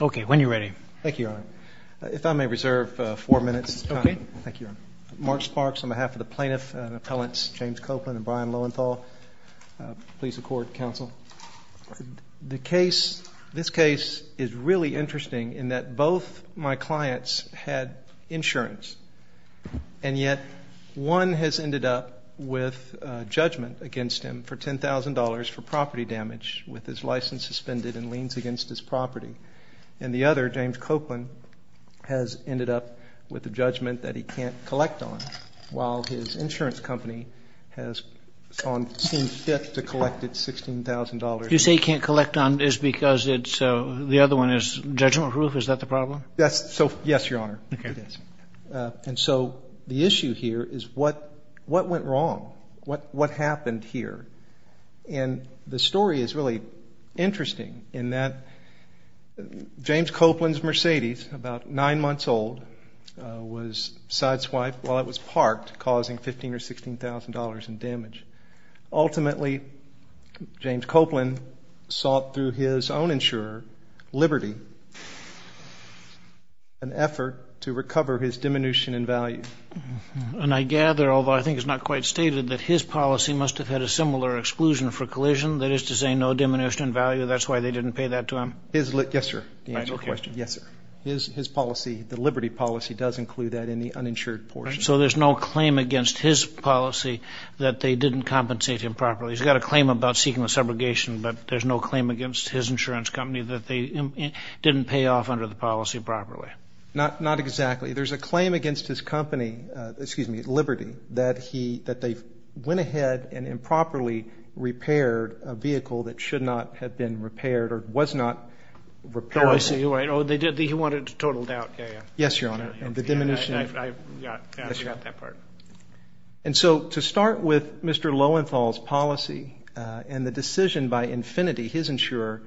Okay, when you're ready. Thank you, Your Honor. If I may reserve four minutes. Okay. Thank you, Your Honor. Mark Sparks on behalf of the plaintiff and appellants James Copelan and Brian Lowenthal, please accord counsel. The case, this case is really interesting in that both my clients had insurance and yet one has ended up with judgment against him for $10,000 for property damage with his license suspended and liens against his property. And the other, James Copelan, has ended up with a judgment that he can't collect on while his insurance company has on scene fifth to collect its $16,000. You say he can't collect on is because it's, the other one is judgment proof, is that the problem? Yes, Your Honor. Okay. It is. And so the issue here is what went wrong? What happened here? And the story is really interesting in that James Copelan's Mercedes, about nine months old, was side swiped while it was parked causing $15,000 or $16,000 in damage. Ultimately, James Copelan sought through his own insurer, Liberty, an effort to recover his diminution in value. And I gather, although I think it's not quite stated, that his policy must have had a similar exclusion for collision, that is to say no diminution in value, that's why they didn't pay that to him? Yes, sir. Yes, sir. His policy, the Liberty policy does include that in the uninsured portion. So there's no claim against his policy that they didn't compensate him properly. He's got a claim about seeking the subrogation, but there's no claim against his insurance company that they didn't pay off under the policy properly. Not exactly. There's a claim against his company, excuse me, Liberty, that they went ahead and improperly repaired a vehicle that should not have been repaired or was not repaired. Oh, I see. Oh, he wanted totaled out. Yes, Your Honor. I forgot that part. And so to start with Mr. Lowenthal's policy and the decision by Infiniti, his insurer,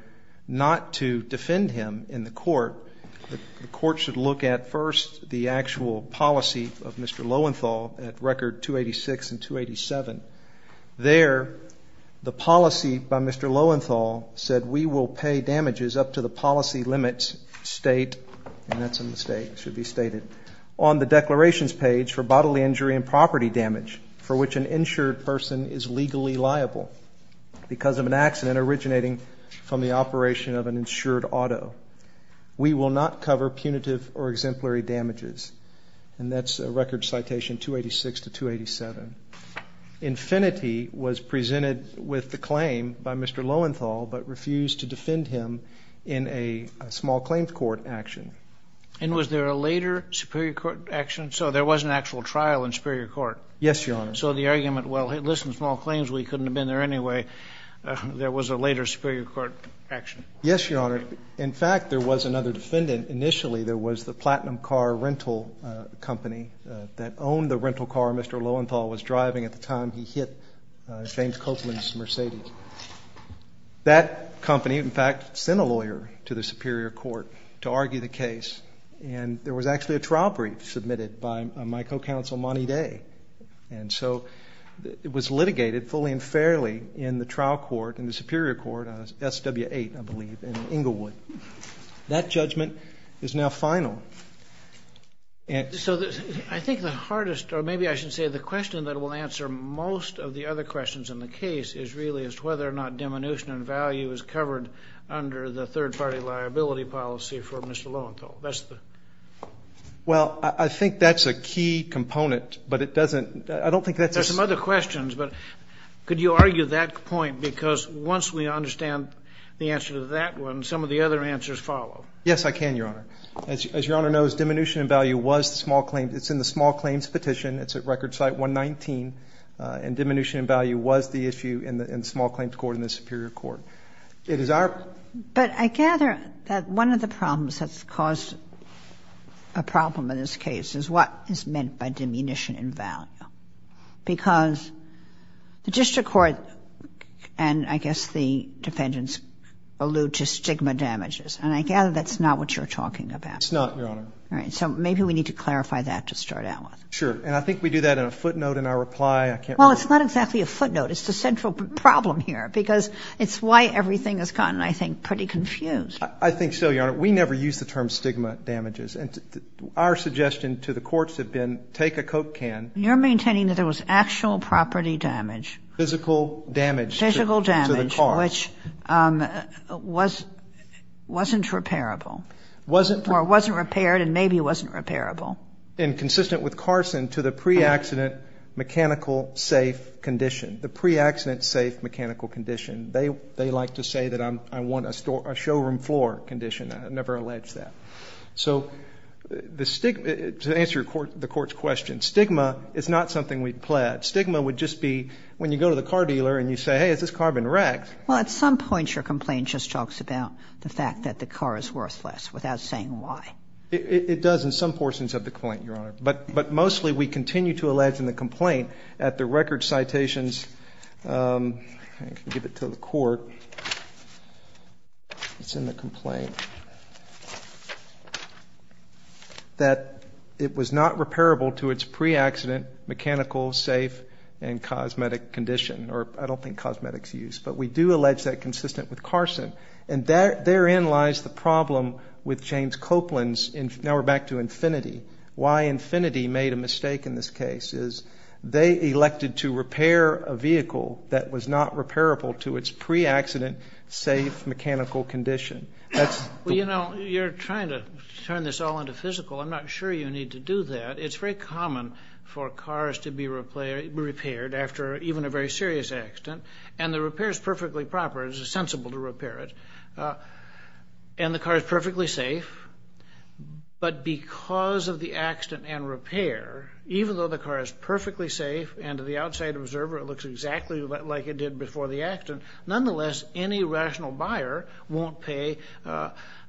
not to defend him in the court, the court should look at first the actual policy of Mr. Lowenthal at record 286 and 287. There, the policy by Mr. Lowenthal said we will pay damages up to the policy limits state, and that's a mistake, should be stated, on the declarations page for bodily injury and property damage for which an insured person is legally liable because of an accident originating from the operation of an insured auto. We will not cover punitive or exemplary damages, and that's a record citation 286 to 287. Infiniti was presented with the claim by Mr. Lowenthal but refused to defend him in a small claim court action. And was there a later Superior Court action? So there was an actual trial in Superior Court. Yes, Your Honor. So the argument, well, listen, small claims, we couldn't have been there anyway. There was a later Superior Court action. Yes, Your Honor. In fact, there was another defendant. Initially, there was the Platinum Car Rental Company that owned the rental car Mr. Lowenthal was driving at the time he hit James Copeland's Mercedes. That company, in fact, sent a lawyer to the Superior Court to argue the case, and there was actually a trial brief submitted by my co-counsel, Monty Day. And so it was litigated fully and fairly in the trial court in the Superior Court, SW8, I believe, in Inglewood. That judgment is now final. So I think the hardest, or maybe I should say the question that will answer most of the other questions in the case is really as to whether or not diminution in value is covered under the third-party liability policy for Mr. Lowenthal. Well, I think that's a key component, but it doesn't, I don't think that's a... There's some other questions, but could you argue that point? Because once we understand the answer to that one, some of the other answers follow. Yes, I can, Your Honor. As Your Honor knows, diminution in value was the small claim, it's in the small claims petition, it's at Record Site 119, and diminution in value was the issue in the small claims court in the Superior Court. It is our... But I gather that one of the problems that's caused a problem in this case is what is meant by diminution in value. Because the district court, and I guess the defendants, allude to stigma damages, and I gather that's not what you're talking about. It's not, Your Honor. So maybe we need to clarify that to start out with. Sure, and I think we do that in a footnote in our reply, I can't remember. Well, it's not exactly a footnote, it's the central problem here, because it's why everything has gotten, I think, pretty confused. I think so, Your Honor. We never use the term stigma damages, and our suggestion to the courts have been, take a Coke can... You're maintaining that there was actual property damage. Physical damage to the car. Physical damage, which wasn't repairable. Or wasn't repaired, and maybe wasn't repairable. And consistent with Carson, to the pre-accident mechanical safe condition. The pre-accident safe mechanical condition. They like to say that I want a showroom floor condition. I never allege that. So, to answer the court's question, stigma is not something we pledge. Stigma would just be when you go to the car dealer and you say, hey, has this car been wrecked? Well, at some point your complaint just talks about the car is worthless, without saying why. It does in some portions of the complaint, Your Honor. But mostly we continue to allege in the complaint, at the record citations, I can give it to the court, it's in the complaint, that it was not repairable to its pre-accident mechanical safe and cosmetic condition. Or, I don't think cosmetics use. But we do allege that consistent with Carson. And therein lies the problem with James Copeland's, now we're back to Infinity. Why Infinity made a mistake in this case is they elected to repair a vehicle that was not repairable to its pre-accident safe mechanical condition. Well, you know, you're trying to turn this all into physical. I'm not sure you need to do that. It's very common for cars to be repaired after even a very serious accident. And the car is perfectly safe. But because of the accident and repair, even though the car is perfectly safe and to the outside observer it looks exactly like it did before the accident, nonetheless any rational buyer won't pay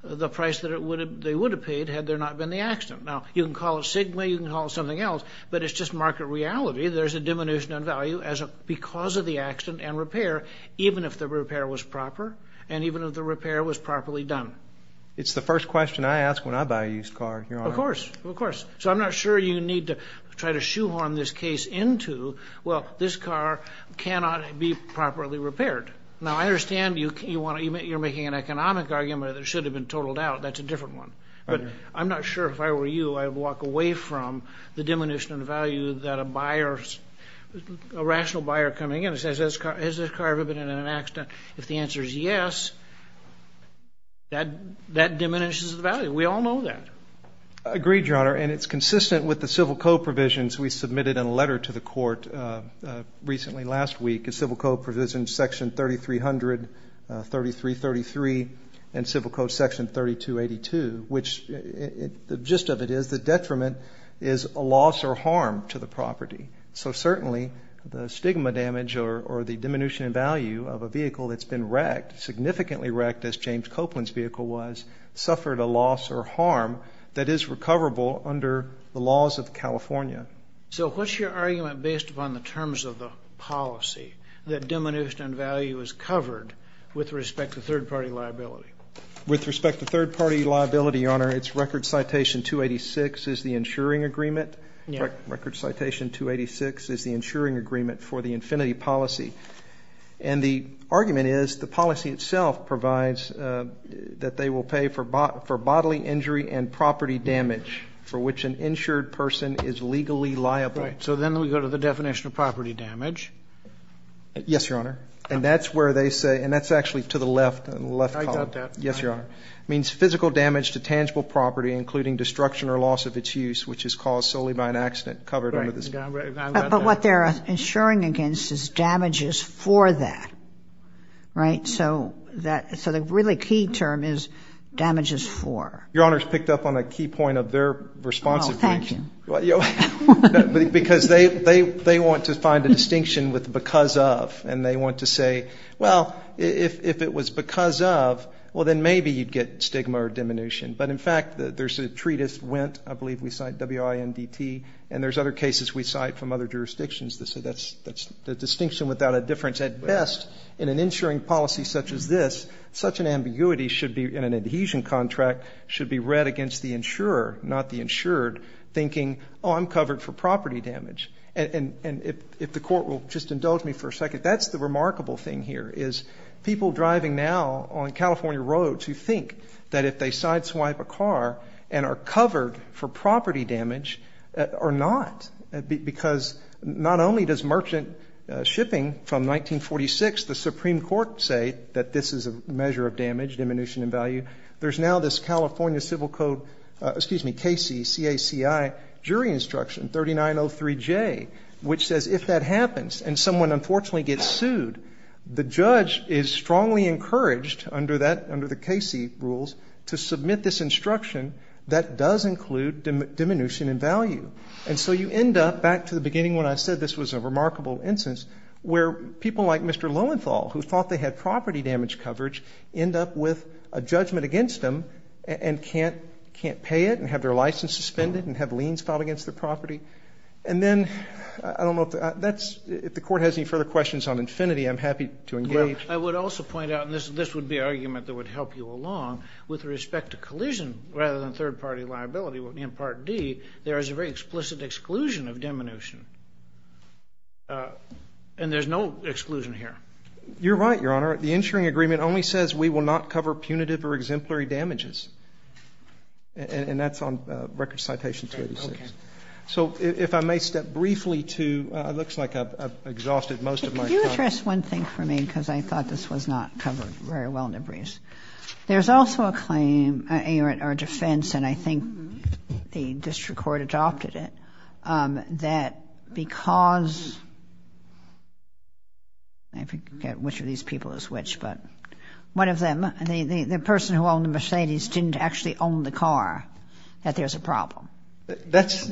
the price that they would have paid had there not been the accident. Now, you can call it Sigma, you can call it something else, but it's just market reality. There's a diminution in value because of the accident and repair. Even if the repair was proper and even if the repair was properly done. It's the first question I ask when I buy a used car, Your Honor. Of course, of course. So I'm not sure you need to try to shoehorn this case into, well, this car cannot be properly repaired. Now, I understand you're making an economic argument that it should have been totaled out. That's a different one. But I'm not sure if I were you, I'd walk away from the diminution in value that a buyer, a rational buyer coming in and says, has this car ever been in an accident? If the answer is yes, that diminishes the value. We all know that. Agreed, Your Honor. And it's consistent with the civil code provisions we submitted in a letter to the court recently, last week. The civil code provisions section 3300, 3333, and civil code section 3282, which the gist of it is, the detriment is a loss or harm to the property. So certainly, the stigma damage or the diminution in value of a vehicle that's been wrecked, significantly wrecked, as James Copeland's vehicle was, suffered a loss or harm that is recoverable under the laws of California. So what's your argument based upon the terms of the policy that diminution in value is covered with respect to third-party liability? With respect to third-party liability, Your Honor, it's record citation 286 is the insuring agreement. Record citation 286 is the insuring agreement for the infinity policy. And the argument is the policy itself provides that they will pay for bodily injury and property damage for which an insured person is legally liable. So then we go to the definition of property damage. Yes, Your Honor. And that's where they say, and that's actually to the left, left column. I got that. Yes, Your Honor. It means physical damage to tangible property, including destruction or loss of its use, which is caused solely by an accident covered under this law. But what they're insuring against is damages for that, right? So that, so the really key term is damages for. Your Honor's picked up on a key point of their response, because they want to find a distinction with because of, and they want to say, well, if it was because of, well, then maybe you'd get stigma or diminution. But in fact, there's a treatise, WENT, I believe we cite, W-I-N-D-T, and there's other cases we cite from other jurisdictions that say that's the distinction without a difference. At best, in an insuring policy such as this, such an ambiguity should be, in an adhesion contract, should be read against the insurer, not the insured, thinking, oh, I'm covered for property damage. And if the Court will just indulge me for a second, that's the remarkable thing here, is people driving now on California roads who think that if they sideswipe a car and are covered for property damage are not, because not only does merchant shipping from 1946, the Supreme Court say that this is a measure of damage, diminution in value, there's now this California Civil Code, excuse me, KC, CACI, jury instruction, 3903J, which says if that happens and someone unfortunately gets sued, the judge is strongly encouraged under that, under the CACI rules, to submit this instruction that does include diminution in value. And so you end up, back to the beginning when I said this was a remarkable instance, where people like Mr. Lowenthal who thought they had property damage coverage end up with a judgment against them and can't pay it and have their license suspended and have liens filed against their property. And then, I don't know if that's, if the Court has any further questions on infinity, I'm happy to engage. I would also point out, and this would be an argument that would help you along, with respect to collision rather than third-party liability, in Part D, there is a very explicit exclusion of diminution. And there's no exclusion here. You're right, Your Honor. The insuring agreement only says we will not cover punitive or exemplary damages. And that's on Record Citation 286. So, if I may step briefly to, it looks like I've exhausted most of my time. Could you address one thing for me because I thought this was not covered very well in the briefs. There's also a claim in our defense, and I think the district court adopted it, that because, I forget which of these people is which, but one of them, the person who owned the Mercedes didn't actually own the car, that there's a problem. That's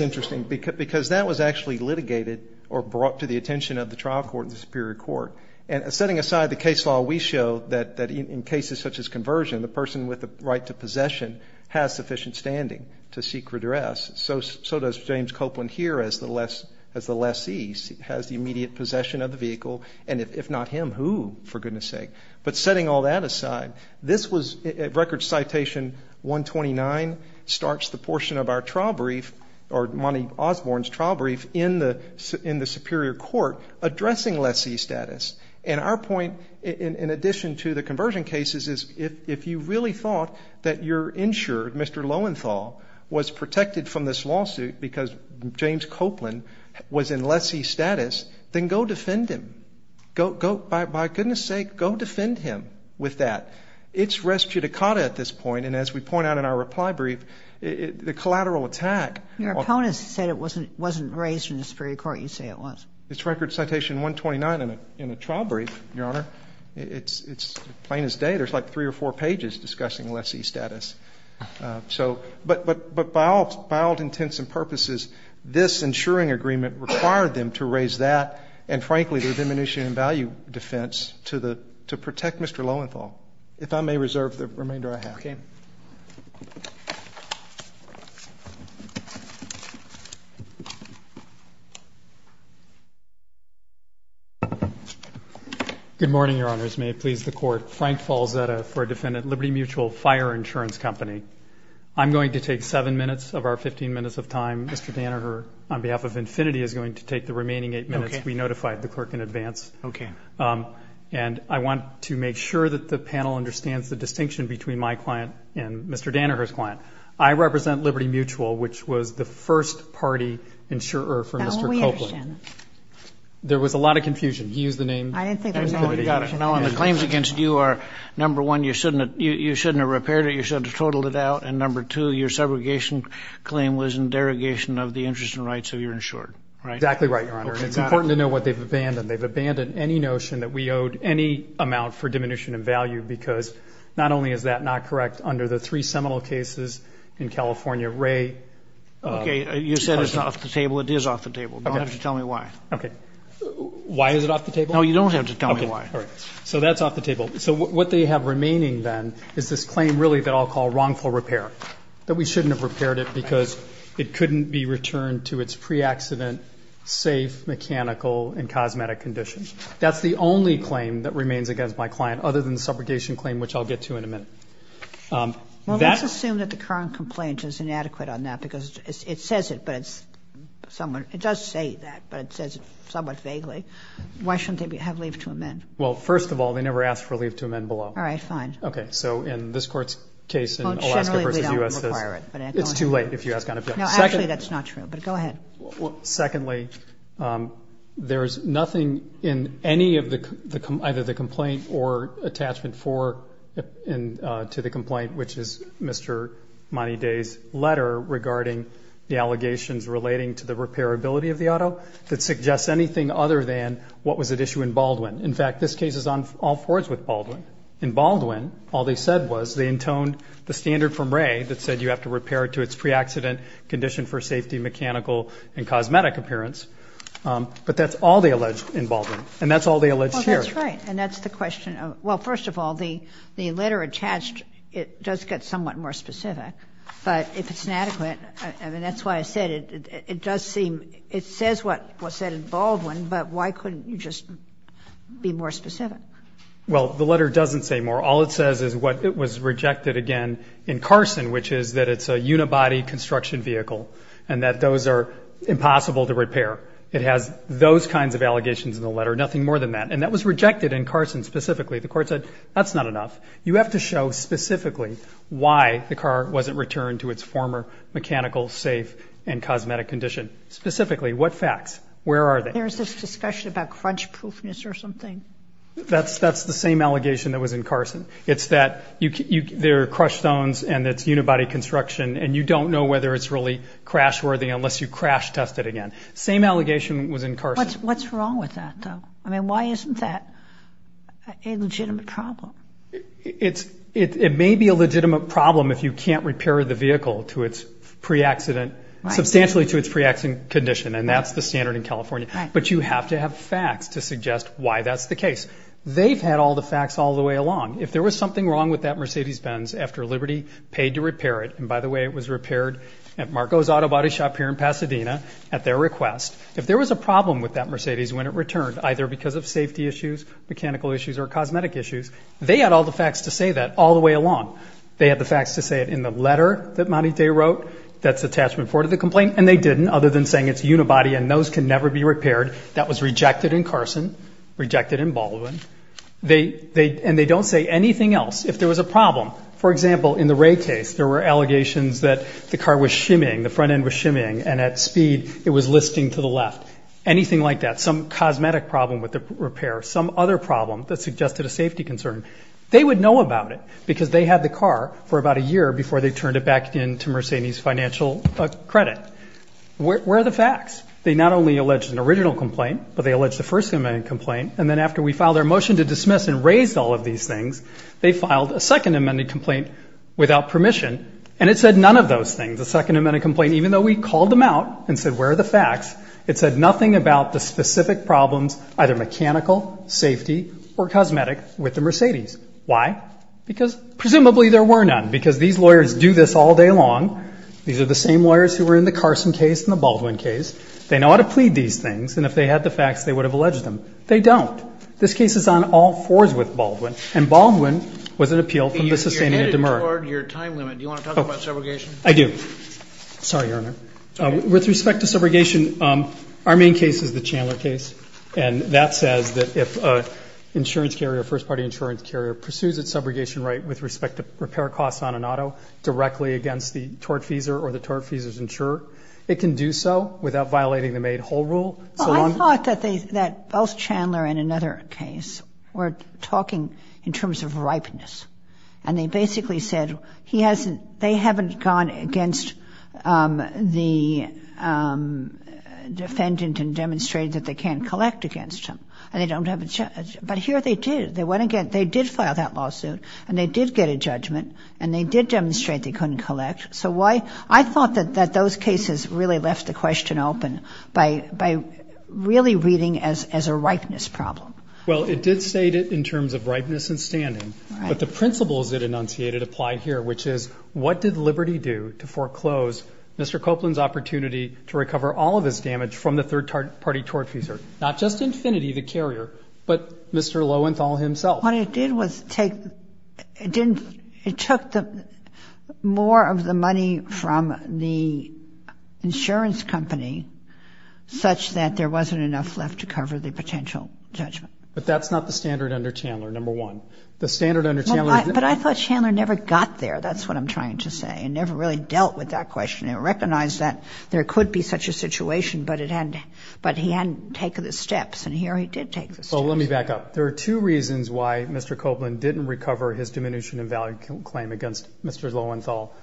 interesting because that was actually litigated or brought to the attention of the trial court and the Superior Court. And setting aside the case law, we show that in cases such as conversion, the person with the right to possession has sufficient standing to seek redress. So does James Copeland here as the lessee, has the immediate possession of the vehicle. And if not him, who, for goodness sake? But setting all that aside, this was Record Citation 129, starts the portion of our trial brief or Monty Osborne's trial brief in the Superior Court addressing lessee status. And our point, in addition to the conversion cases, is if you really thought that your insurer, Mr. Lowenthal, was protected from this lawsuit because James Copeland was in lessee status, then go defend him. Go, by goodness sake, go defend him with that. It's res judicata at this point, and as we point out in our reply brief, the collateral attack. Your opponents said it wasn't raised in the Superior Court. You say it was. It's Record Citation 129 in a trial brief, Your Honor. It's plain as day. There's like three or four pages discussing lessee status. But by all intents and purposes, this insuring agreement required them to raise that and, frankly, the diminution in value defense to protect Mr. Lowenthal. If I may reserve the remainder I have. Good morning, Your Honors. May it please the Court. Frank Falzetta for Defendant Liberty Mutual Fire Insurance Company. I'm going to take seven minutes of our 15 minutes of time. Mr. Danaher, on behalf of Infinity, is going to take the remaining eight minutes to be notified of the clerk in advance. Okay. And I want to make sure that the panel understands the distinction between my client and Mr. Danaher's client. I represent Liberty Mutual, which was the first party insurer for Mr. Copeland. Now, we understand that. There was a lot of confusion. He used the name. I didn't think there was any confusion. No, and the claims against you are, number one, you shouldn't have repaired it. You should have totaled it out. And, number two, your segregation claim was in derogation of the interests and rights of your insured, right? Exactly right, Your Honor. It's important to know what they've abandoned. They've abandoned any notion that we owed any amount for diminution in value because not only is that not correct under the three seminal cases in California, Ray... Okay, you said it's off the table. It is off the table. You don't have to tell me why. Okay. Why is it off the table? No, you don't have to tell me why. Okay, all right. So that's off the table. So what they have remaining then is this claim really that I'll call wrongful repair, that we shouldn't have repaired it because it couldn't be returned to its pre-accident, safe, mechanical, and cosmetic condition. That's the only claim that remains against my client other than the subrogation claim, which I'll get to in a minute. Well, let's assume that the current complaint is inadequate on that because it says it, but it's somewhat... It does say that, but it says it somewhat vaguely. Why shouldn't they have leave to amend? Well, first of all, they never asked for leave to amend. Well, generally, they don't require it. It's too late if you ask on a... No, actually, that's not true, but go ahead. Well, secondly, there's nothing in any of the... Either the complaint or attachment to the complaint, which is Mr. Monty Day's letter regarding the allegations relating to the repairability of the auto that suggests anything other than what was at issue in Baldwin. In fact, this case is on all fours with Baldwin. In Baldwin, all they said was they intoned the standard from Wray that said you have to repair to its pre-accident, condition for safety, mechanical, and cosmetic appearance, but that's all they alleged in Baldwin, and that's all they alleged here. Well, that's right, and that's the question of... Well, first of all, the letter attached, it does get somewhat more specific, but if it's inadequate, I mean, that's why I said it does seem... It says what was said in Baldwin, but why couldn't you just be more specific? Well, the letter doesn't say more. All it says is what it was rejected again in Carson, which is that it's a unibody construction vehicle and that those are impossible to repair. It has those kinds of allegations in the letter, nothing more than that, and that was rejected in Carson specifically. The court said, that's not enough. You have to show specifically why the car wasn't returned to its former mechanical, safe, and cosmetic condition. Specifically, what facts? Where are they? There's this discussion about crunch proofness or something. That's the same allegation that was in Carson. It's that they're crushed stones and it's unibody construction, and you don't know whether it's really crash worthy unless you crash test it again. Same allegation was in Carson. What's wrong with that, though? I mean, why isn't that a legitimate problem? It may be a legitimate problem if you can't repair the vehicle to its pre-accident, substantially to its pre-accident condition, and that's the standard in California, but you have to have facts to suggest why that's the case. They've had all the facts all the way along. If there was something wrong with that Mercedes Benz after Liberty paid to repair it, and by the way, it was repaired at Marco's Auto Body Shop here in Pasadena at their request. If there was a problem with that Mercedes when it returned, either because of safety issues, mechanical issues, or cosmetic issues, they had all the facts to say that all the way along. They had the facts to say it in the letter that Monty Day wrote that's attachment four to the complaint, and they didn't, other than saying it's unibody and those can never be repaired. That was rejected in Carson, rejected in Baldwin, and they don't say anything else. If there was a problem, for example, in the Wray case, there were allegations that the car was shimmying, the front end was shimmying, and at speed it was listing to the left. Anything like that, some cosmetic problem with the repair, some other problem that suggested a safety concern, they would know about it because they had the car for about a year before they turned it back into Mercedes financial credit. Where are the facts? They not only alleged an original complaint, but they alleged a first amendment complaint, and then after we filed our motion to dismiss and raise all of these things, they filed a second amendment complaint without permission, and it said none of those things. The second amendment complaint, even though we called them out and said where are the facts, it said nothing about the specific problems, either mechanical, safety, or cosmetic with the Mercedes. Why? Because presumably there were none, because these lawyers do this all day long. These are the same lawyers who were in the Carson case and the Baldwin case. They know how to plead these things, and if they had the facts, they would have alleged them. They don't. This case is on all fours with Baldwin, and Baldwin was an appeal from the sustaining of Demer. You're headed toward your time limit. Do you want to talk about subrogation? I do. Sorry, Your Honor. With respect to subrogation, our main case is the Chandler case, and that first party insurance carrier pursues its subrogation right with respect to repair costs on an auto directly against the tortfeasor or the tortfeasor's insurer. It can do so without violating the made whole rule. Well, I thought that they, that both Chandler and another case were talking in terms of ripeness, and they basically said he hasn't, they haven't gone against the defendant and demonstrated that they can't collect against him, and they don't have a, but here they did. They went against, they did file that lawsuit, and they did get a judgment, and they did demonstrate they couldn't collect. So why, I thought that those cases really left the question open by really reading as a ripeness problem. Well, it did state it in terms of ripeness and standing, but the principles it enunciated apply here, which is what did Liberty do to foreclose Mr. Copeland's opportunity to recover all of his damage from the third party tortfeasor, not just Infinity, the carrier, but Mr. Lowenthal, himself. What it did was take, it didn't, it took the, more of the money from the insurance company such that there wasn't enough left to cover the potential judgment. But that's not the standard under Chandler, number one. The standard under Chandler is But I thought Chandler never got there, that's what I'm trying to say, and never really dealt with that question, and recognized that there could be such a situation, but it hadn't, but he hadn't taken the steps, and here he did take the steps. So let me back up. There are two reasons why Mr. Copeland didn't recover his diminution in value claim against Mr. Lowenthal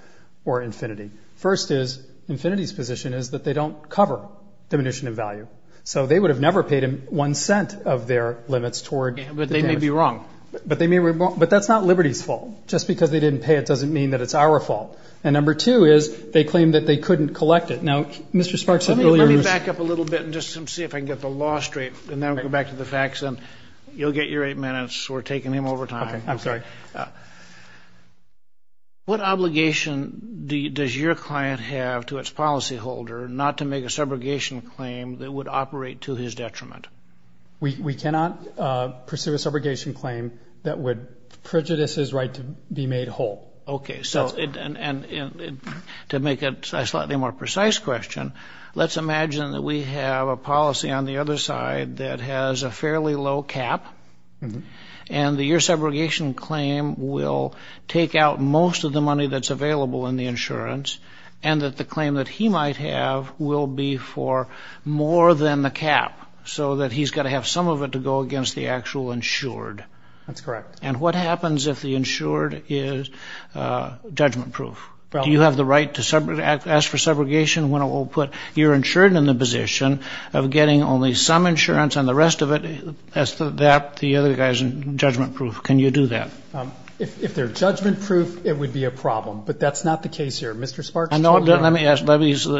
or Infinity. First is, Infinity's position is that they don't cover diminution in value. So they would have never paid him one cent of their limits toward the damage. But they may be wrong. But they may be wrong. But that's not Liberty's fault. Just because they didn't pay it doesn't mean that it's our fault. And number two is, they claimed that they couldn't collect it. Now, Mr. Sparks had earlier Let me back up a little bit and just see if I can get the law straight, and then we'll get back to the facts, and you'll get your eight minutes. We're taking them over time. Okay. I'm sorry. What obligation does your client have to its policyholder not to make a subrogation claim that would operate to his detriment? We cannot pursue a subrogation claim that would prejudice his right to be made whole. Okay. So, and to make a slightly more precise question, let's imagine that we have a policy on the other side that has a fairly low cap, and that your subrogation claim will take out most of the money that's available in the insurance, and that the claim that he might have will be for more than the cap, so that he's got to have some of it to go against the actual insured. That's correct. And what happens if the insured is judgment-proof? Do you have the right to ask for subrogation when it will put your insured in the position of getting only some insurance and the rest of it as to that, the other guy's judgment-proof? Can you do that? If they're judgment-proof, it would be a problem, but that's not the case here. Mr. Sparks, I'm sorry. No, let me ask.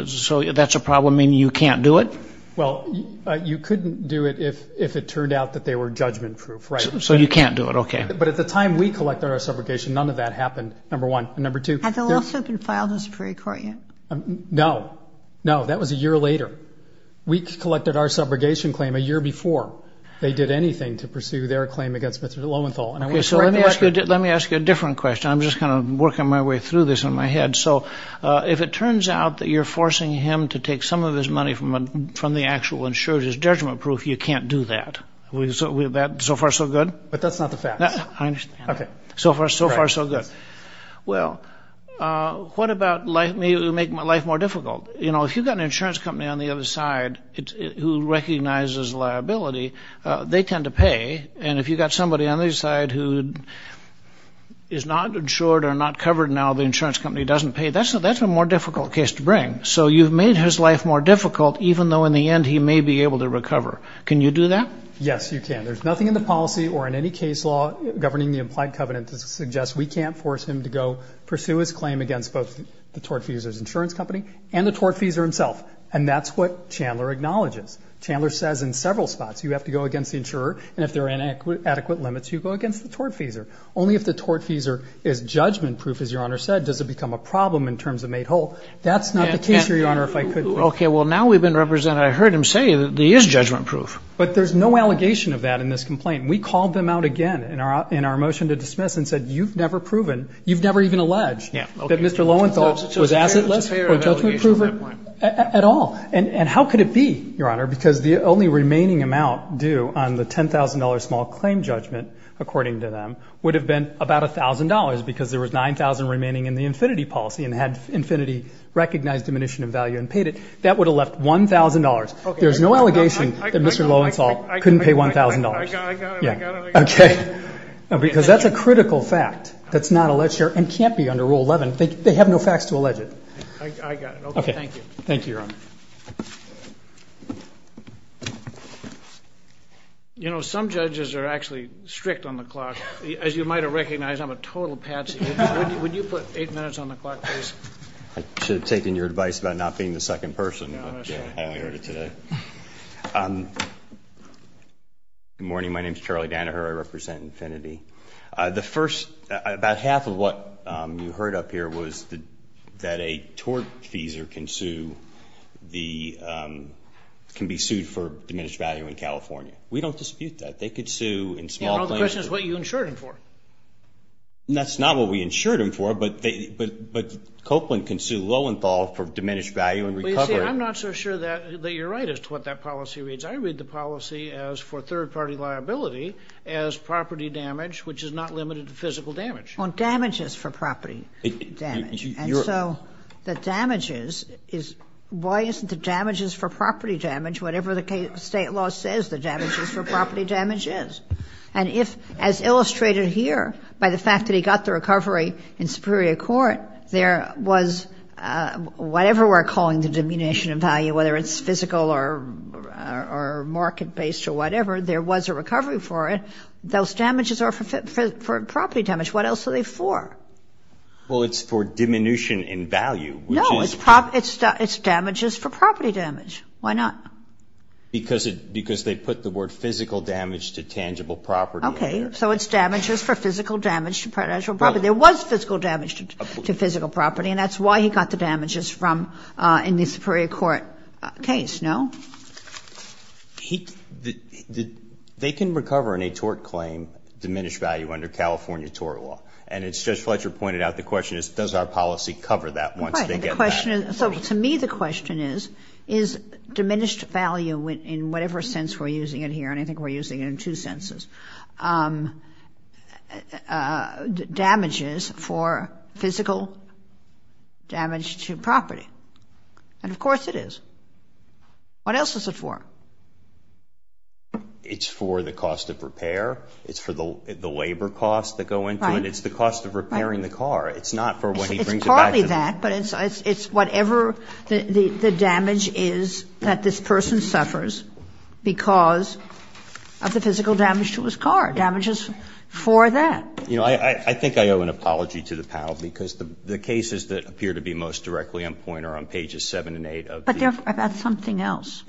So that's a problem, meaning you can't do it? Well, you couldn't do it if it turned out that they were judgment-proof, right? So you can't do it. Okay. But at the time we collected our subrogation, none of that happened, number one. And number two, there's— Has the lawsuit been filed in the Supreme Court yet? No. No, that was a year later. We collected our subrogation claim a year before they did anything to pursue their claim against Mr. Lowenthal. Okay, so let me ask you a different question. I'm just kind of working my way through this in my head. So if it turns out that you're forcing him to take some of his money from the actual insured as judgment-proof, you can't do that. Is that so far so good? But that's not the fact. I understand. So far so good. Well, what about—maybe it would make my life more difficult. You know, if you've got an insurance company on the other side who recognizes liability, they tend to pay. And if you've got somebody on the other side who is not insured or not covered now, the insurance company doesn't pay, that's a more difficult case to bring. So you've made his life more difficult, even though in the end he may be able to recover. Can you do that? Yes, you can. There's nothing in the policy or in any case law governing the implied covenant that suggests we can't force him to go pursue his claim against both the tortfeasor's insurance company and the tortfeasor himself. And that's what Chandler acknowledges. Chandler says in several spots, you have to go against the insurer, and if there are inadequate limits, you go against the tortfeasor. Only if the tortfeasor is judgment-proof, as Your Honor said, does it become a problem in terms of made whole. That's not the case here, Your Honor, if I could— Okay, well, now we've been represented. I heard him say that he is judgment-proof. But there's no allegation of that in this complaint. We called them out again in our motion to dismiss and said, you've never proven, you've never even alleged that Mr. Lowenthal was assetless or judgment-proof at all. And how could it be, Your Honor, because the only remaining amount due on the $10,000 small claim judgment, according to them, would have been about $1,000 because there was $9,000 remaining in the infinity policy and had infinity recognized diminution of value and paid it. That would have left $1,000. There's no way Mr. Lowenthal couldn't pay $1,000. I got it, I got it, I got it. Okay. Because that's a critical fact that's not alleged here and can't be under Rule 11. They have no facts to allege it. I got it. Okay, thank you. Thank you, Your Honor. You know, some judges are actually strict on the clock. As you might have recognized, I'm a total patsy. Would you put eight minutes on the clock, please? I should have taken your advice about not being the second person, but I only heard it today. Good morning. My name is Charlie Danaher. I represent infinity. The first, about half of what you heard up here was that a tort feeser can be sued for diminished value in California. We don't dispute that. They could sue in small claims. Your Honor, the question is what you insured him for. That's not what we insured him for, but Copeland can sue Lowenthal for diminished value in recovery. I'm not so sure that you're right as to what that policy reads. I read the policy as for third-party liability as property damage, which is not limited to physical damage. On damages for property damage. And so the damages is, why isn't the damages for property damage whatever the state law says the damages for property damage is? And if, as illustrated here by the fact that he got the recovery in superior court, there was whatever we're calling the diminution of value, whether it's physical or market-based or whatever, there was a recovery for it. Those damages are for property damage. What else are they for? Well, it's for diminution in value. No, it's damages for property damage. Why not? Because they put the word physical damage to tangible property. Okay. So it's damages for physical damage to financial property. There was physical damage to physical property. And that's why he got the damages from, in the superior court case, no? They can recover in a tort claim diminished value under California tort law. And as Judge Fletcher pointed out, the question is, does our policy cover that once they get back? So to me, the question is, is diminished value in whatever sense we're using it here, and I think we're using it in two senses, damages for physical damage to property? And of course it is. What else is it for? It's for the cost of repair. It's for the labor costs that go into it. It's the cost of repairing the car. It's not for what he brings it back to the court. But it's whatever the damage is that this person suffers because of the physical damage to his car. Damage is for that. You know, I think I owe an apology to the panel, because the cases that appear to be most directly on point are on pages 7 and 8 of the... But they're about something else.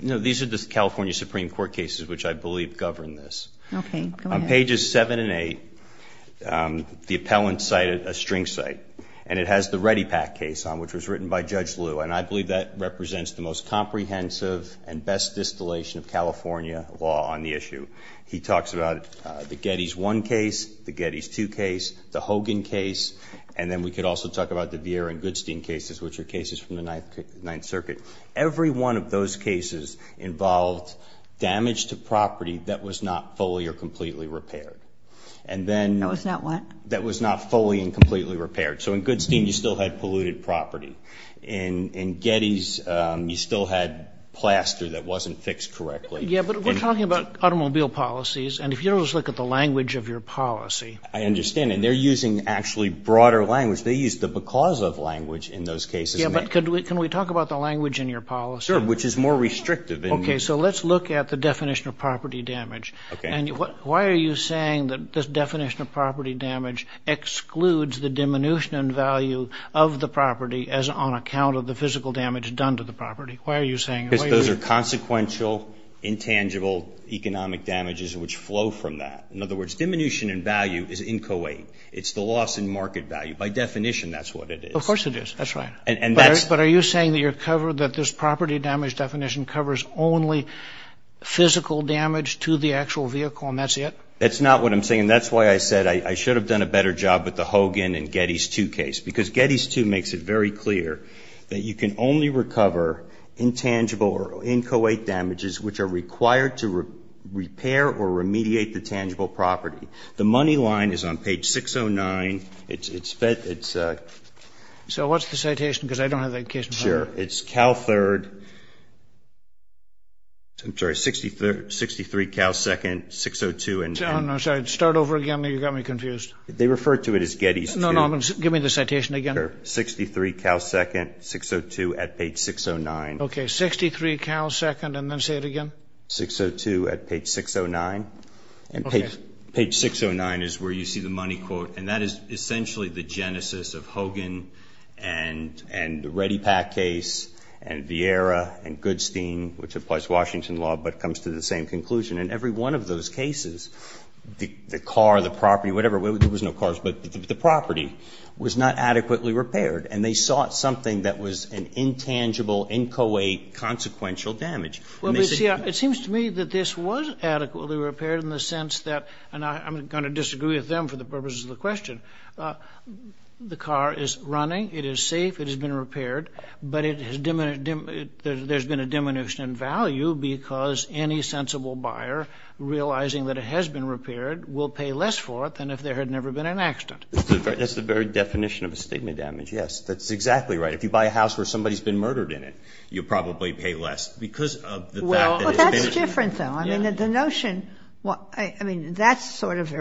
No. These are the California Supreme Court cases which I believe govern this. Okay. Go ahead. On pages 7 and 8, the appellant cited a string cite, and it has the Reddipack case on, which was written by Judge Liu, and I believe that represents the most comprehensive and best distillation of California law on the issue. He talks about the Geddes I case, the Geddes II case, the Hogan case, and then we could also talk about the Vieira and Goodstein cases, which are cases from the Ninth Circuit. Every one of those cases involved damage to property that was not fully or completely repaired. And then... That was not what? That was not fully and completely repaired. So in Goodstein, you still had polluted property. In Geddes, you still had plaster that wasn't fixed correctly. Yeah, but we're talking about automobile policies, and if you just look at the language of your policy... I understand. And they're using actually broader language. They use the because of language in those cases. Yeah, but can we talk about the language in your policy? Sure, which is more restrictive. Okay, so let's look at the definition of property damage. And why are you saying that this definition of property damage excludes the diminution in value of the property as on account of the physical damage done to the property? Why are you saying... Because those are consequential, intangible economic damages which flow from that. In other words, diminution in value is inchoate. It's the loss in market value. By definition, that's what it is. Of course it is. That's right. But are you saying that this property damage definition covers only physical damage to the actual vehicle, and that's it? That's not what I'm saying. That's why I said I should have done a better job with the Hogan and Geddes 2 case, because Geddes 2 makes it very clear that you can only recover intangible or inchoate damages which are required to repair or remediate the tangible property. The money line is on page 609. It's... So what's the citation? Because I don't have that case in front of me. Sure. It's Cal 3rd... I'm sorry, 63 Cal 2nd, 602 and... I'm sorry. Start over again. You got me confused. They refer to it as Geddes 2. No, no. Give me the citation again. Sure. 63 Cal 2nd, 602 at page 609. Okay. 63 Cal 2nd, and then say it again. 602 at page 609. And page 609 is where you see the money quote, and that is and Vieira and Goodstein, which applies Washington law, but comes to the same conclusion. In every one of those cases, the car, the property, whatever, there was no cars, but the property was not adequately repaired, and they sought something that was an intangible, inchoate, consequential damage. Well, but see, it seems to me that this was adequately repaired in the sense that, and I'm going to disagree with them for the purposes of the question, but the car is running, it is safe, it has been repaired, but there's been a diminution in value because any sensible buyer, realizing that it has been repaired, will pay less for it than if there had never been an accident. That's the very definition of a stigma damage, yes. That's exactly right. If you buy a house where somebody's been murdered in it, you probably pay less because of the fact that it's been repaired. Well, that's different, though. I mean, the notion... I mean, that's sort of the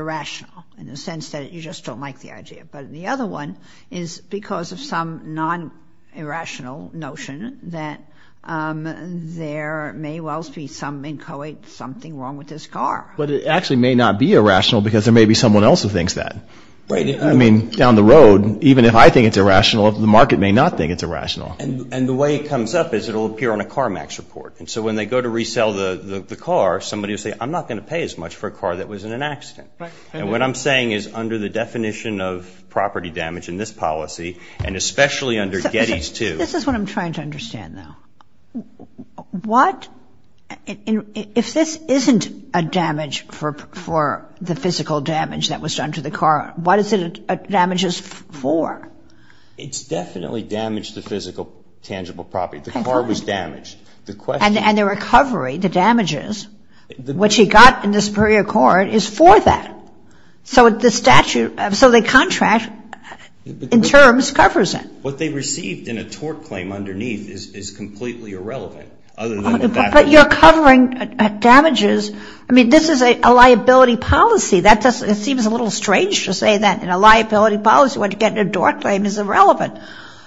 idea, but the other one is because of some non-irrational notion that there may well be some inchoate, something wrong with this car. But it actually may not be irrational because there may be someone else who thinks that. I mean, down the road, even if I think it's irrational, the market may not think it's irrational. And the way it comes up is it'll appear on a CarMax report, and so when they go to resell the car, somebody will say, I'm not going to pay as much for a car that was in an accident. And what I'm saying is, under the definition of property damage in this policy, and especially under Getty's, too... This is what I'm trying to understand, though. What... If this isn't a damage for the physical damage that was done to the car, what is it damages for? It's definitely damaged the physical, tangible property. The car was damaged. And the recovery, the damages, which he got in this period of time, is for that. So the statute... So the contract, in terms, covers it. What they received in a tort claim underneath is completely irrelevant, other than what that... But you're covering damages... I mean, this is a liability policy. That doesn't... It seems a little strange to say that in a liability policy, what you get in a tort claim is irrelevant.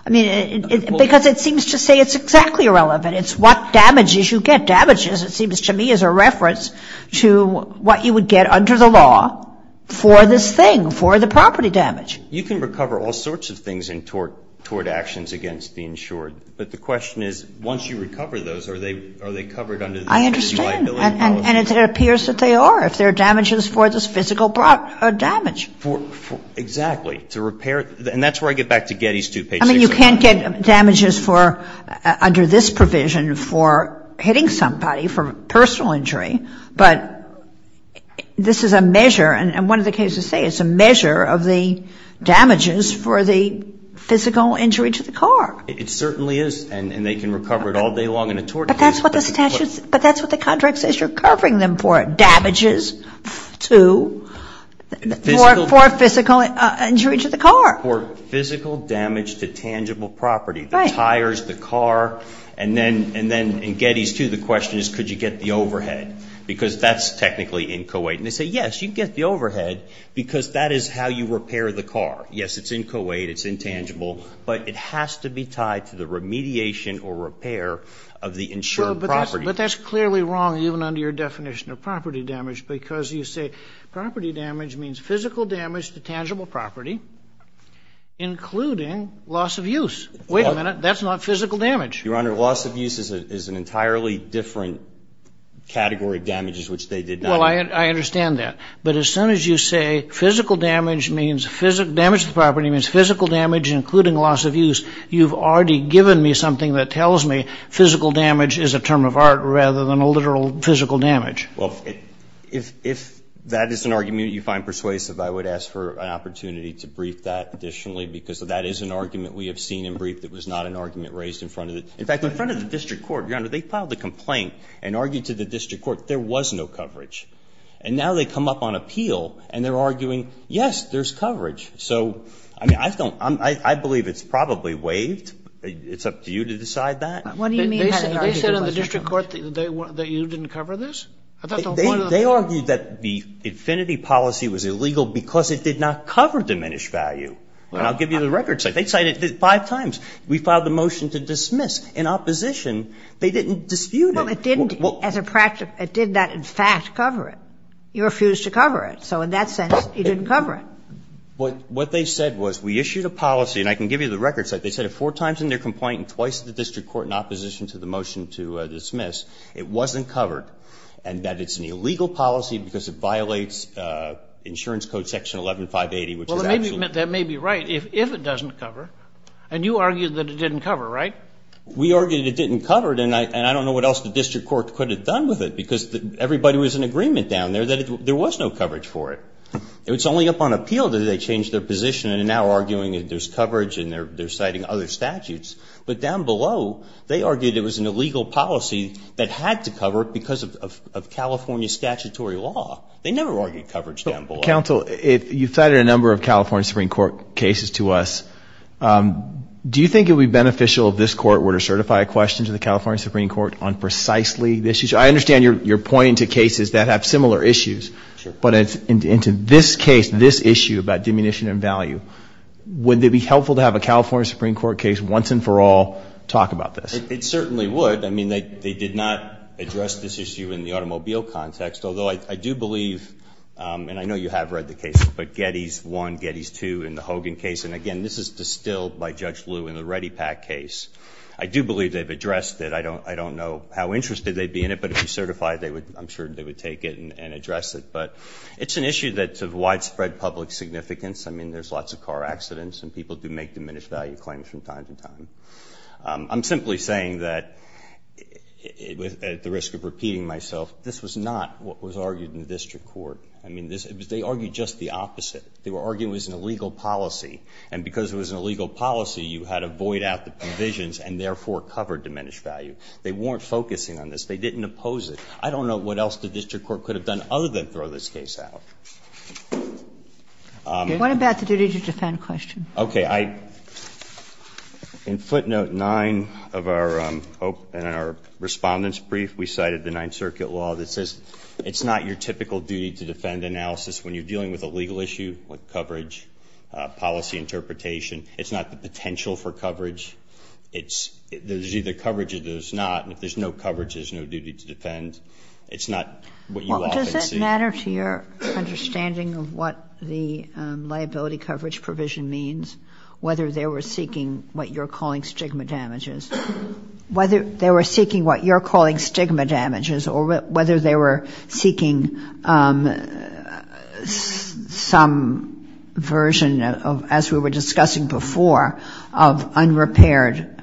I mean, because it seems to say it's exactly irrelevant. It's what damages you get damages, it seems to me, as a reference to what you would get under the law for this thing, for the property damage. You can recover all sorts of things in tort actions against the insured. But the question is, once you recover those, are they covered under the... I understand. And it appears that they are, if they're damages for this physical damage. Exactly. To repair... And that's where I get back to Getty's, too. Page 6... I mean, you can't get damages for, under this provision, for hitting somebody for personal injury. But this is a measure, and one of the cases say it's a measure of the damages for the physical injury to the car. It certainly is. And they can recover it all day long in a tort case. But that's what the statute... But that's what the contract says you're covering them for, damages to... For physical injury to the car. For physical damage to tangible property, the tires, the car. And then in the statute, you get the overhead. Because that's technically in Co-8. And they say, yes, you get the overhead because that is how you repair the car. Yes, it's in Co-8. It's intangible. But it has to be tied to the remediation or repair of the insured property. But that's clearly wrong, even under your definition of property damage, because you say property damage means physical damage to tangible property, including loss of use. Wait a minute. That's not physical damage. Your Honor, loss of use is an entirely different category of damages, which they did not... Well, I understand that. But as soon as you say physical damage means physical damage to the property means physical damage, including loss of use, you've already given me something that tells me physical damage is a term of art rather than a literal physical damage. Well, if that is an argument you find persuasive, I would ask for an opportunity to go to the district court and argue that it was not an argument raised in front of the – in fact, in front of the district court, Your Honor, they filed a complaint and argued to the district court there was no coverage. And now they come up on appeal and they're arguing, yes, there's coverage. So, I mean, I don't – I believe it's probably waived. It's up to you to decide that. They said in the district court that you didn't cover this? They argued that the infinity policy was illegal because it did not cover diminished value. And I'll give you the records. They cited it five times. We filed the motion to dismiss. In opposition, they didn't dispute it. Well, it didn't as a – it did not, in fact, cover it. You refused to cover it. So in that sense, you didn't cover it. What they said was we issued a policy, and I can give you the records. They said it four times in their complaint and twice in the district court in opposition to the motion to dismiss. It wasn't covered. And that it's an illegal policy because it violates insurance code section 11-580, which is actually— That may be right if it doesn't cover. And you argued that it didn't cover, right? We argued it didn't cover it, and I don't know what else the district court could have done with it because everybody was in agreement down there that there was no coverage for it. It was only upon appeal that they changed their position and are now arguing that there's coverage and they're citing other statutes. But down below, they argued it was an illegal policy that had to cover it because of California statutory law. They never argued coverage down below. Counsel, you cited a number of California Supreme Court cases to us. Do you think it would be beneficial if this court were to certify a question to the California Supreme Court on precisely this issue? I understand you're pointing to cases that have similar issues, but into this case, this issue about diminution and value, would it be helpful to have a California Supreme Court case once and for all talk about this? It certainly would. I mean, they did not address this issue in the automobile context, although I do believe, and I know you have read the cases, but Geddes 1, Geddes 2 in the Hogan case, and again, this is distilled by Judge Lew in the Reddipack case. I do believe they've addressed it. I don't know how interested they'd be in it, but if you certify it, I'm sure they would take it and address it. But it's an issue that's of widespread public significance. I mean, there's lots of car accidents and people do make diminished value claims from time to time. I'm simply saying that, at the risk of repeating myself, this was not what was argued in the district court. I mean, they argued just the opposite. They were arguing it was an illegal policy, and because it was an illegal policy, you had to void out the provisions and therefore cover diminished value. They weren't focusing on this. They didn't oppose it. I don't know what else the district court could have done other than throw this case out. What about the duty to defend question? Okay. In footnote 9 of our respondents' brief, we cited the Ninth Circuit law that says it's not your typical duty to defend analysis when you're dealing with a legal issue like coverage, policy interpretation. It's not the potential for coverage. There's either coverage or there's not, and if there's no coverage, there's no duty to defend. It's not what you often see. Well, does that matter to your understanding of what the liability coverage provision means, whether they were seeking what you're calling stigma damages, whether they were seeking what you're calling stigma damages, or whether they were seeking some version, as we were discussing before, of unrepaired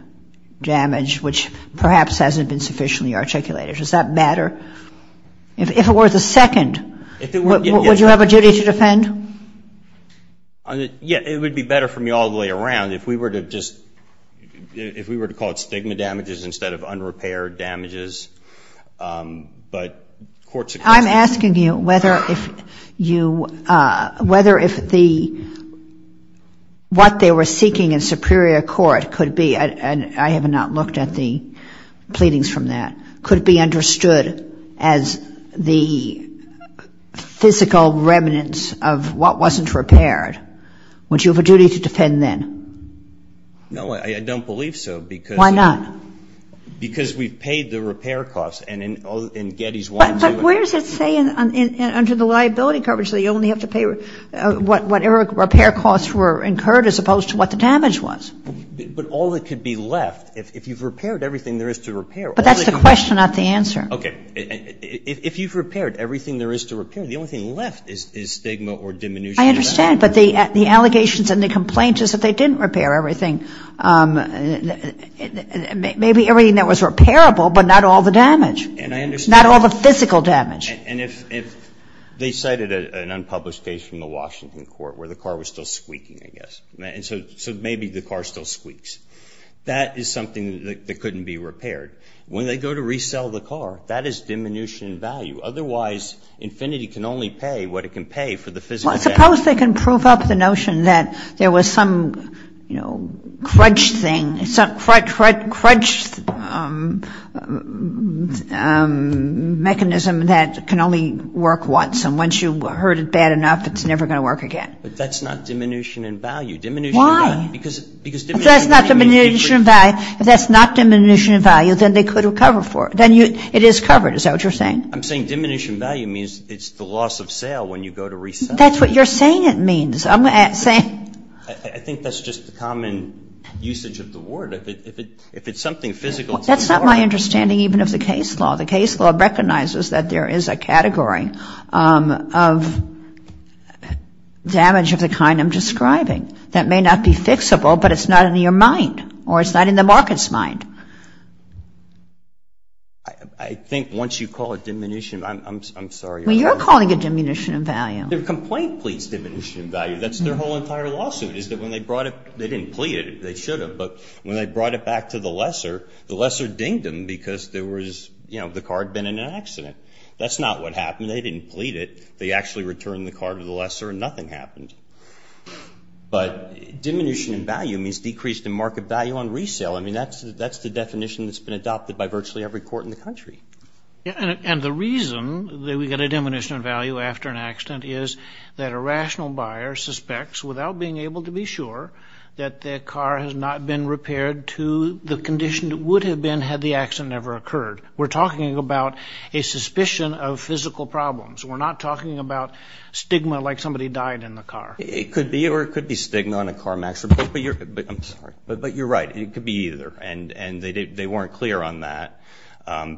damage, which perhaps hasn't been sufficiently articulated? Does that matter? If it were the second, would you have a duty to defend? Yeah. It would be better for me all the way around if we were to just, if we were to call it stigma damages instead of unrepaired damages, but courts across the country I'm asking you whether if you, whether if the, what they were seeking in superior court could be, and I have not looked at the pleadings from that, could be understood as the physical remnants of what wasn't repaired, would you have a duty to defend then? No, I don't believe so, because... Why not? Because we've paid the repair costs, and Getty's wanted to... But where does it say under the liability coverage that you only have to pay whatever repair costs were incurred as opposed to what the damage was? But all that could be left, if you've repaired everything there is to repair... But that's the question, not the answer. Okay. If you've repaired everything there is to repair, the only thing left is stigma or diminution... I understand, but the allegations and the complaint is that they didn't repair everything. Maybe everything that was repairable, but not all the damage. And I understand... Not all the physical damage. And if they cited an unpublished case from the Washington court where the car was still squeaking, I guess, and so maybe the car still squeaks, that is something that couldn't be repaired. When they go to resell the car, that is diminution in value. Otherwise, Infiniti can only pay what it can pay for the physical damage. Well, suppose they can prove up the notion that there was some, you know, crutch thing, some crutch mechanism that can only work once, and once you hurt it bad enough, it's never going to work again. But that's not diminution in value. Why? Because diminution in value means... If that's not diminution in value, then they could recover for it. Then it is covered. Is that what you're saying? I'm saying diminution in value means it's the loss of sale when you go to resell. That's what you're saying it means. I'm saying... I think that's just the common usage of the word. If it's something physical... That's not my understanding even of the case law. The case law recognizes that there is a category of damage of the kind I'm describing that may not be fixable, but it's not in your mind, or it's not in the market's mind. I think once you call it diminution... I'm sorry. Well, you're calling it diminution in value. Their complaint pleads diminution in value. That's their whole entire lawsuit, is that when they brought it, they didn't plead it. They should have. But when they brought it back to the lesser, the lesser dinged them because there was, you know, the car had been in an accident. That's not what happened. They didn't plead it. They actually returned the car to the lesser and nothing happened. But diminution in value means decreased in market value on resale. I mean, that's the definition that's been adopted by virtually every court in the country. And the reason that we get a diminution in value after an accident is that a rational buyer suspects without being able to be sure that their car has not been repaired to the condition that it would have been had the accident never occurred. We're talking about a suspicion of physical problems. We're not talking about stigma like somebody died in the car. It could be, or it could be stigma on a car match. I'm sorry. But you're right. It could be either. And they weren't clear on that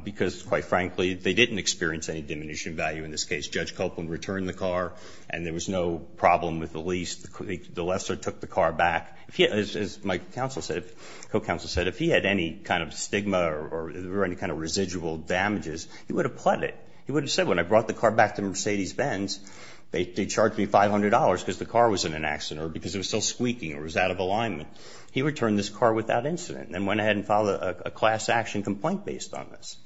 because, quite frankly, they didn't experience any diminution in value in this case. Judge Copeland returned the car and there was no problem with the lease. The lesser took the car back. As my counsel said, if he had any kind of stigma or any kind of residual damages, he would have pled it. He would have said, when I brought the car back to Mercedes-Benz, they charged me $500 because the car was in an accident or because it was still squeaking or was out of alignment. He returned this car without incident and went ahead and filed a class action complaint based on this.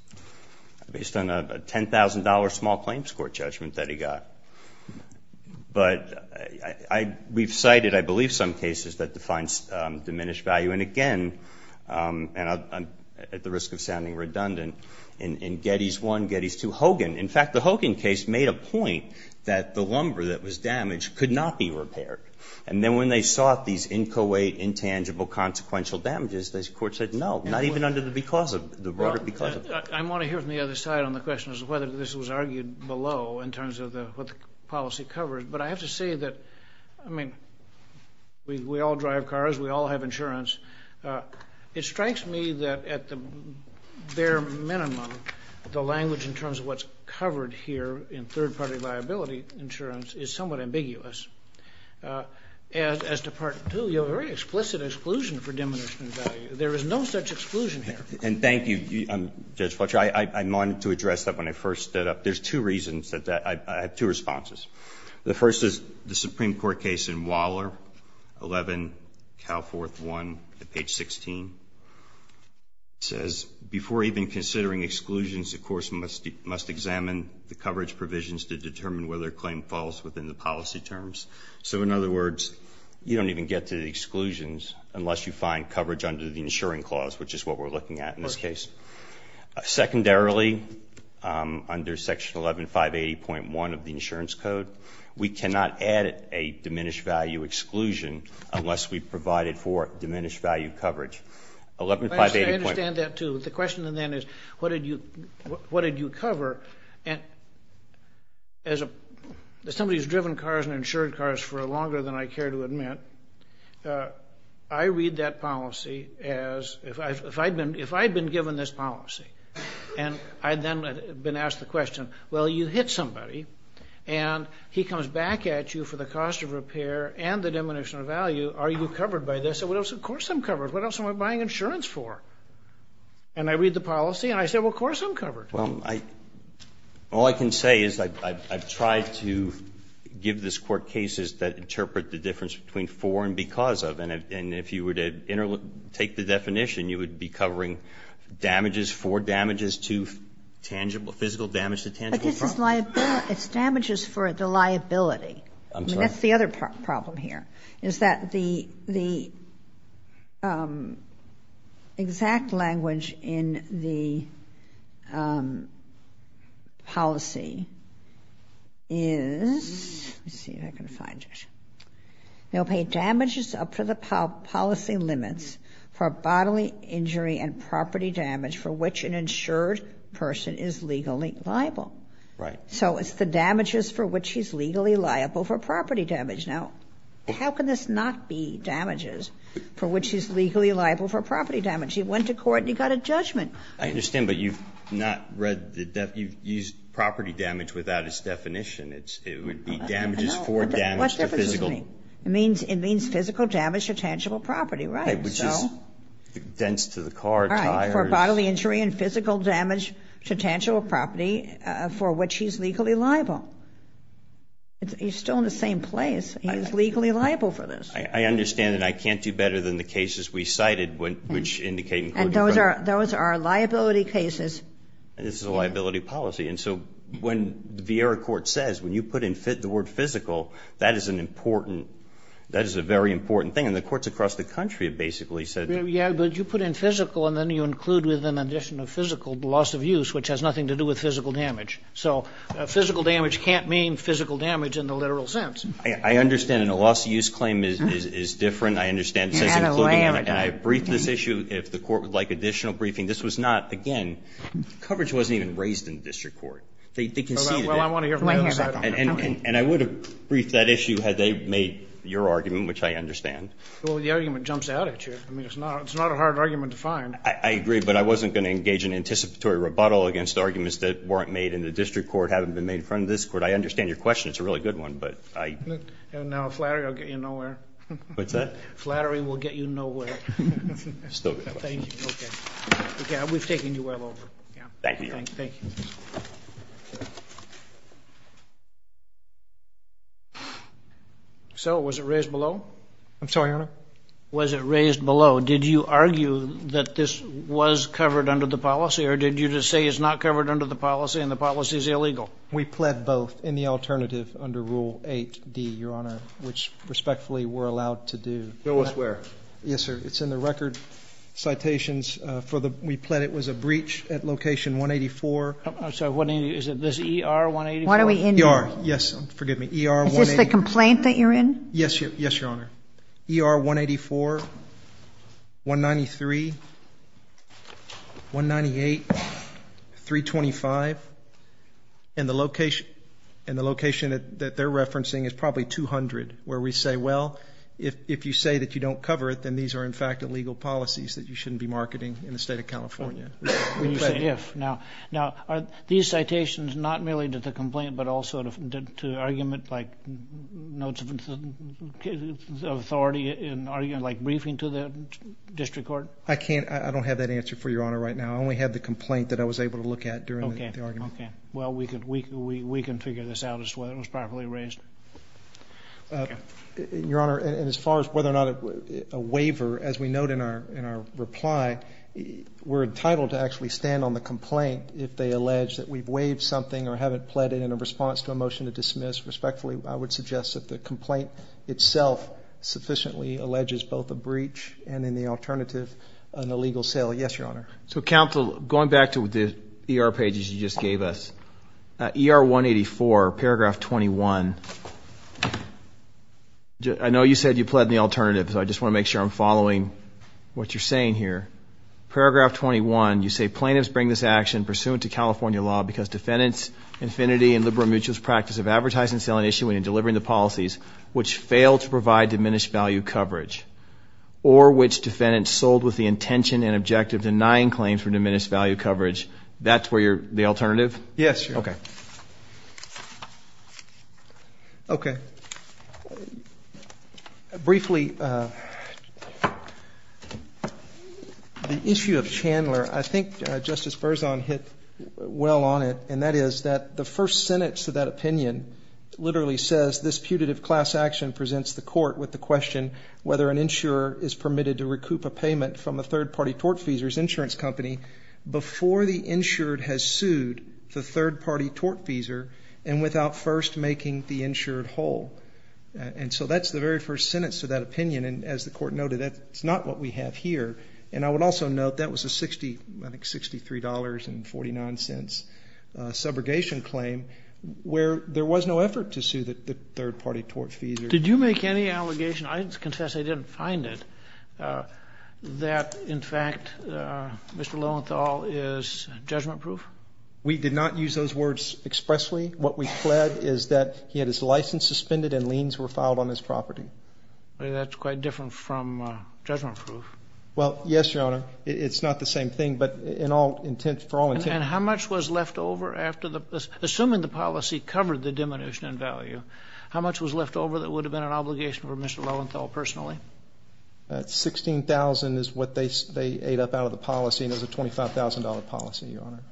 Based on a $10,000 small claims court judgment that he got. But we've cited, I believe, some cases that define diminished value. And again, and I'm at the risk of sounding redundant, in Geddes 1, Geddes 2, Hogan. In fact, the Hogan case made a point that the lumber that was damaged could not be repaired. And then when they sought these inchoate, intangible, consequential damages, this court said, no, not even under the because of, the broader because of. Well, I want to hear from the other side on the question as to whether this was argued below in terms of what the policy covered. But I have to say that, I mean, we all drive cars. We all have insurance. It strikes me that at the bare minimum, the language in terms of what's covered here in third-party liability insurance is somewhat ambiguous. As to Part 2, you have a very explicit exclusion for diminished value. There is no such exclusion here. And thank you, Judge Fletcher. I wanted to address that when I first stood up. There's two reasons that I have two responses. The first is the Supreme Court case in Waller 11, Cal 4th 1, at page 16. It says, before even considering exclusions, the courts must examine the coverage provisions to determine whether a claim falls within the policy terms. So in other words, you don't even get to the exclusions unless you find coverage under the insuring clause, which is what we're looking at in this case. Secondarily, under Section 11580.1 of the insurance code, we cannot add a diminished value exclusion unless we provide it for diminished value coverage. 11580.1. I understand that, too. The question then is, what did you cover? And as somebody who's driven cars and insured cars for longer than I care to admit, I read that policy as, if I'd been given this policy and I'd then been asked the question, well, you hit somebody and he comes back at you for the cost of repair and the diminution of value, are you covered by this? And what else? Of course, I'm covered. What else am I buying insurance for? And I read the policy and I said, well, of course, I'm covered. Well, all I can say is I've tried to give this Court cases that interpret the difference between for and because of. And if you were to take the definition, you would be covering damages for damages to tangible, physical damage to tangible. But this is liability. It's damages for the liability. I'm sorry. That's the other problem here, is that the exact language in the policy is, let's see if I can find it. They'll pay damages up to the policy limits for bodily injury and property damage for which an insured person is legally liable. Right. So it's the damages for which he's legally liable for property damage. Now, how can this not be damages for which he's legally liable for property damage? He went to court and he got a judgment. I understand, but you've not read the, you've used property damage without its definition. It would be damages for damage to physical. It means physical damage to tangible property, right? Which is dents to the car, tires. For bodily injury and physical damage to tangible property for which he's legally liable. He's still in the same place. He's legally liable for this. I understand that I can't do better than the cases we cited, which indicate. And those are liability cases. This is a liability policy. And so when the Vieira court says, when you put in the word physical, that is an important, that is a very important thing. And the courts across the country have basically said. Yeah, but you put in physical and then you include with an addition of physical loss of use, which has nothing to do with physical damage. So physical damage can't mean physical damage in the literal sense. I understand. And a loss of use claim is different. I understand it says including. And I briefed this issue if the court would like additional briefing. Again, coverage wasn't even raised in the district court. They conceded it. Well, I want to hear from the other side. And I would have briefed that issue had they made your argument, which I understand. Well, the argument jumps out at you. I mean, it's not a hard argument to find. I agree. But I wasn't going to engage in anticipatory rebuttal against arguments that weren't made in the district court, haven't been made in front of this court. I understand your question. It's a really good one. But I. And now a flattery will get you nowhere. What's that? Flattery will get you nowhere. Still a good question. Thank you. Yeah, we've taken you well over. Yeah, thank you. So was it raised below? I'm sorry, Your Honor. Was it raised below? Did you argue that this was covered under the policy? Or did you just say it's not covered under the policy and the policy is illegal? We pled both in the alternative under Rule 8D, Your Honor, which respectfully we're allowed to do. Go elsewhere. Yes, sir. It's in the record citations for the. We pled it was a breach at location 184. I'm sorry. What is it? This ER 184? Why are we in ER? Yes. Forgive me. ER 184. Is this the complaint that you're in? Yes. Yes, Your Honor. ER 184, 193, 198, 325. And the location and the location that they're referencing is probably 200 where we say, well, if you say that you don't cover it, then these are, in fact, illegal policies that you shouldn't be marketing in the state of California. When you say if. Now, are these citations not merely to the complaint, but also to argument like notes of authority and argument like briefing to the district court? I can't. I don't have that answer for Your Honor right now. I only have the complaint that I was able to look at during the argument. Okay. Well, we can figure this out as to whether it was properly raised. Okay. Your Honor, and as far as whether or not a waiver, as we note in our reply, we're entitled to actually stand on the complaint if they allege that we've waived something or haven't pled it in a response to a motion to dismiss. Respectfully, I would suggest that the complaint itself sufficiently alleges both a breach and in the alternative, an illegal sale. Yes, Your Honor. So, counsel, going back to the ER pages you just gave us, ER 184, paragraph 21. I know you said you pled in the alternative, so I just want to make sure I'm following what you're saying here. Paragraph 21, you say plaintiffs bring this action pursuant to California law because defendants' infinity and liberal mutualist practice of advertising, selling, issuing, and delivering the policies which fail to provide diminished value coverage or which defendants sold with the intention and objective denying claims for diminished value coverage. That's where you're, the alternative? Yes, Your Honor. Okay. Okay. Briefly, the issue of Chandler, I think Justice Berzon hit well on it, and that is that the first sentence of that opinion literally says, this putative class action presents the court with the question whether an insurer is permitted to recoup a payment from a third-party tort feasor's insurance company before the insured has sued the third-party tort feasor and without first making the insured whole. And so that's the very first sentence of that opinion, and as the court noted, that's not what we have here. And I would also note that was a $63.49 subrogation claim where there was no effort to sue the third-party tort feasor. Did you make any allegation, I confess I didn't find it, that in fact Mr. Lowenthal is judgment proof? We did not use those words expressly. What we pled is that he had his license suspended and liens were filed on his property. That's quite different from judgment proof. Well, yes, Your Honor. It's not the same thing, but in all intent, for all intent. And how much was left over after the, assuming the policy covered the diminution in value, how much was left over that would have been an obligation for Mr. Lowenthal personally? That $16,000 is what they ate up out of the policy, and it was a $25,000 policy, Your Honor.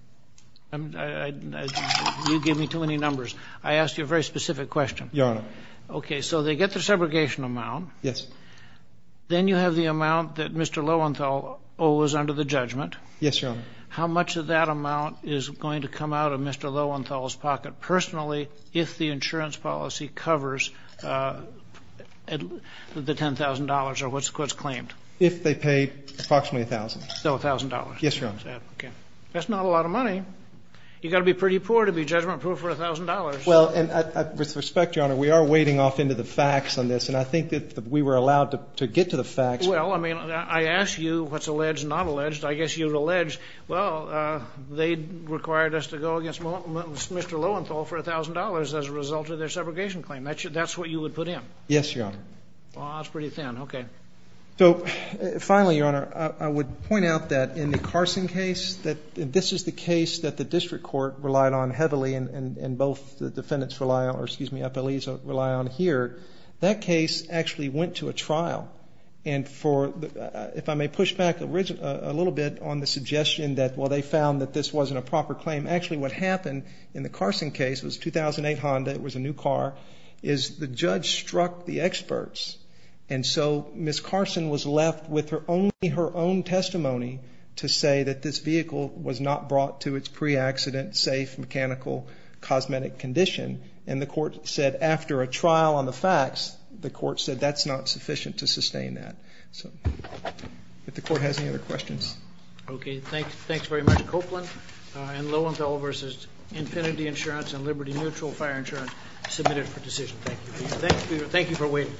You give me too many numbers. I asked you a very specific question. Your Honor. Okay, so they get the subrogation amount. Yes. Then you have the amount that Mr. Lowenthal owes under the judgment. Yes, Your Honor. How much of that amount is going to come out of Mr. Lowenthal's pocket personally if the insurance policy covers the $10,000 or what's claimed? If they pay approximately $1,000. So $1,000. Yes, Your Honor. Okay. That's not a lot of money. You got to be pretty poor to be judgment proof for $1,000. Well, and with respect, Your Honor, we are wading off into the facts on this, and I think that we were allowed to get to the facts. Well, I mean, I asked you what's alleged, not alleged. I guess you'd allege, well, they required us to go against Mr. Lowenthal for $1,000 as a result of their subrogation claim. That's what you would put in. Yes, Your Honor. Oh, that's pretty thin. Okay. So finally, Your Honor, I would point out that in the Carson case, that this is the case that the district court relied on heavily, and both the defendants rely on, or excuse me, FLEs rely on here. That case actually went to a trial. And if I may push back a little bit on the suggestion that, well, they found that this wasn't a proper claim. Actually, what happened in the Carson case was 2008 Honda, it was a new car, is the judge struck the experts, and so Ms. Carson was left with only her own testimony to say that this vehicle was not brought to its pre-accident, safe, mechanical, cosmetic condition, and the court said after a trial on the facts, the court said that's not sufficient to sustain that. So if the court has any other questions. Okay. Thanks very much. Copeland and Lowenthal versus Infinity Insurance and Liberty Neutral Fire Insurance submitted for decision. Thank you. Thank you. Thank you for waiting.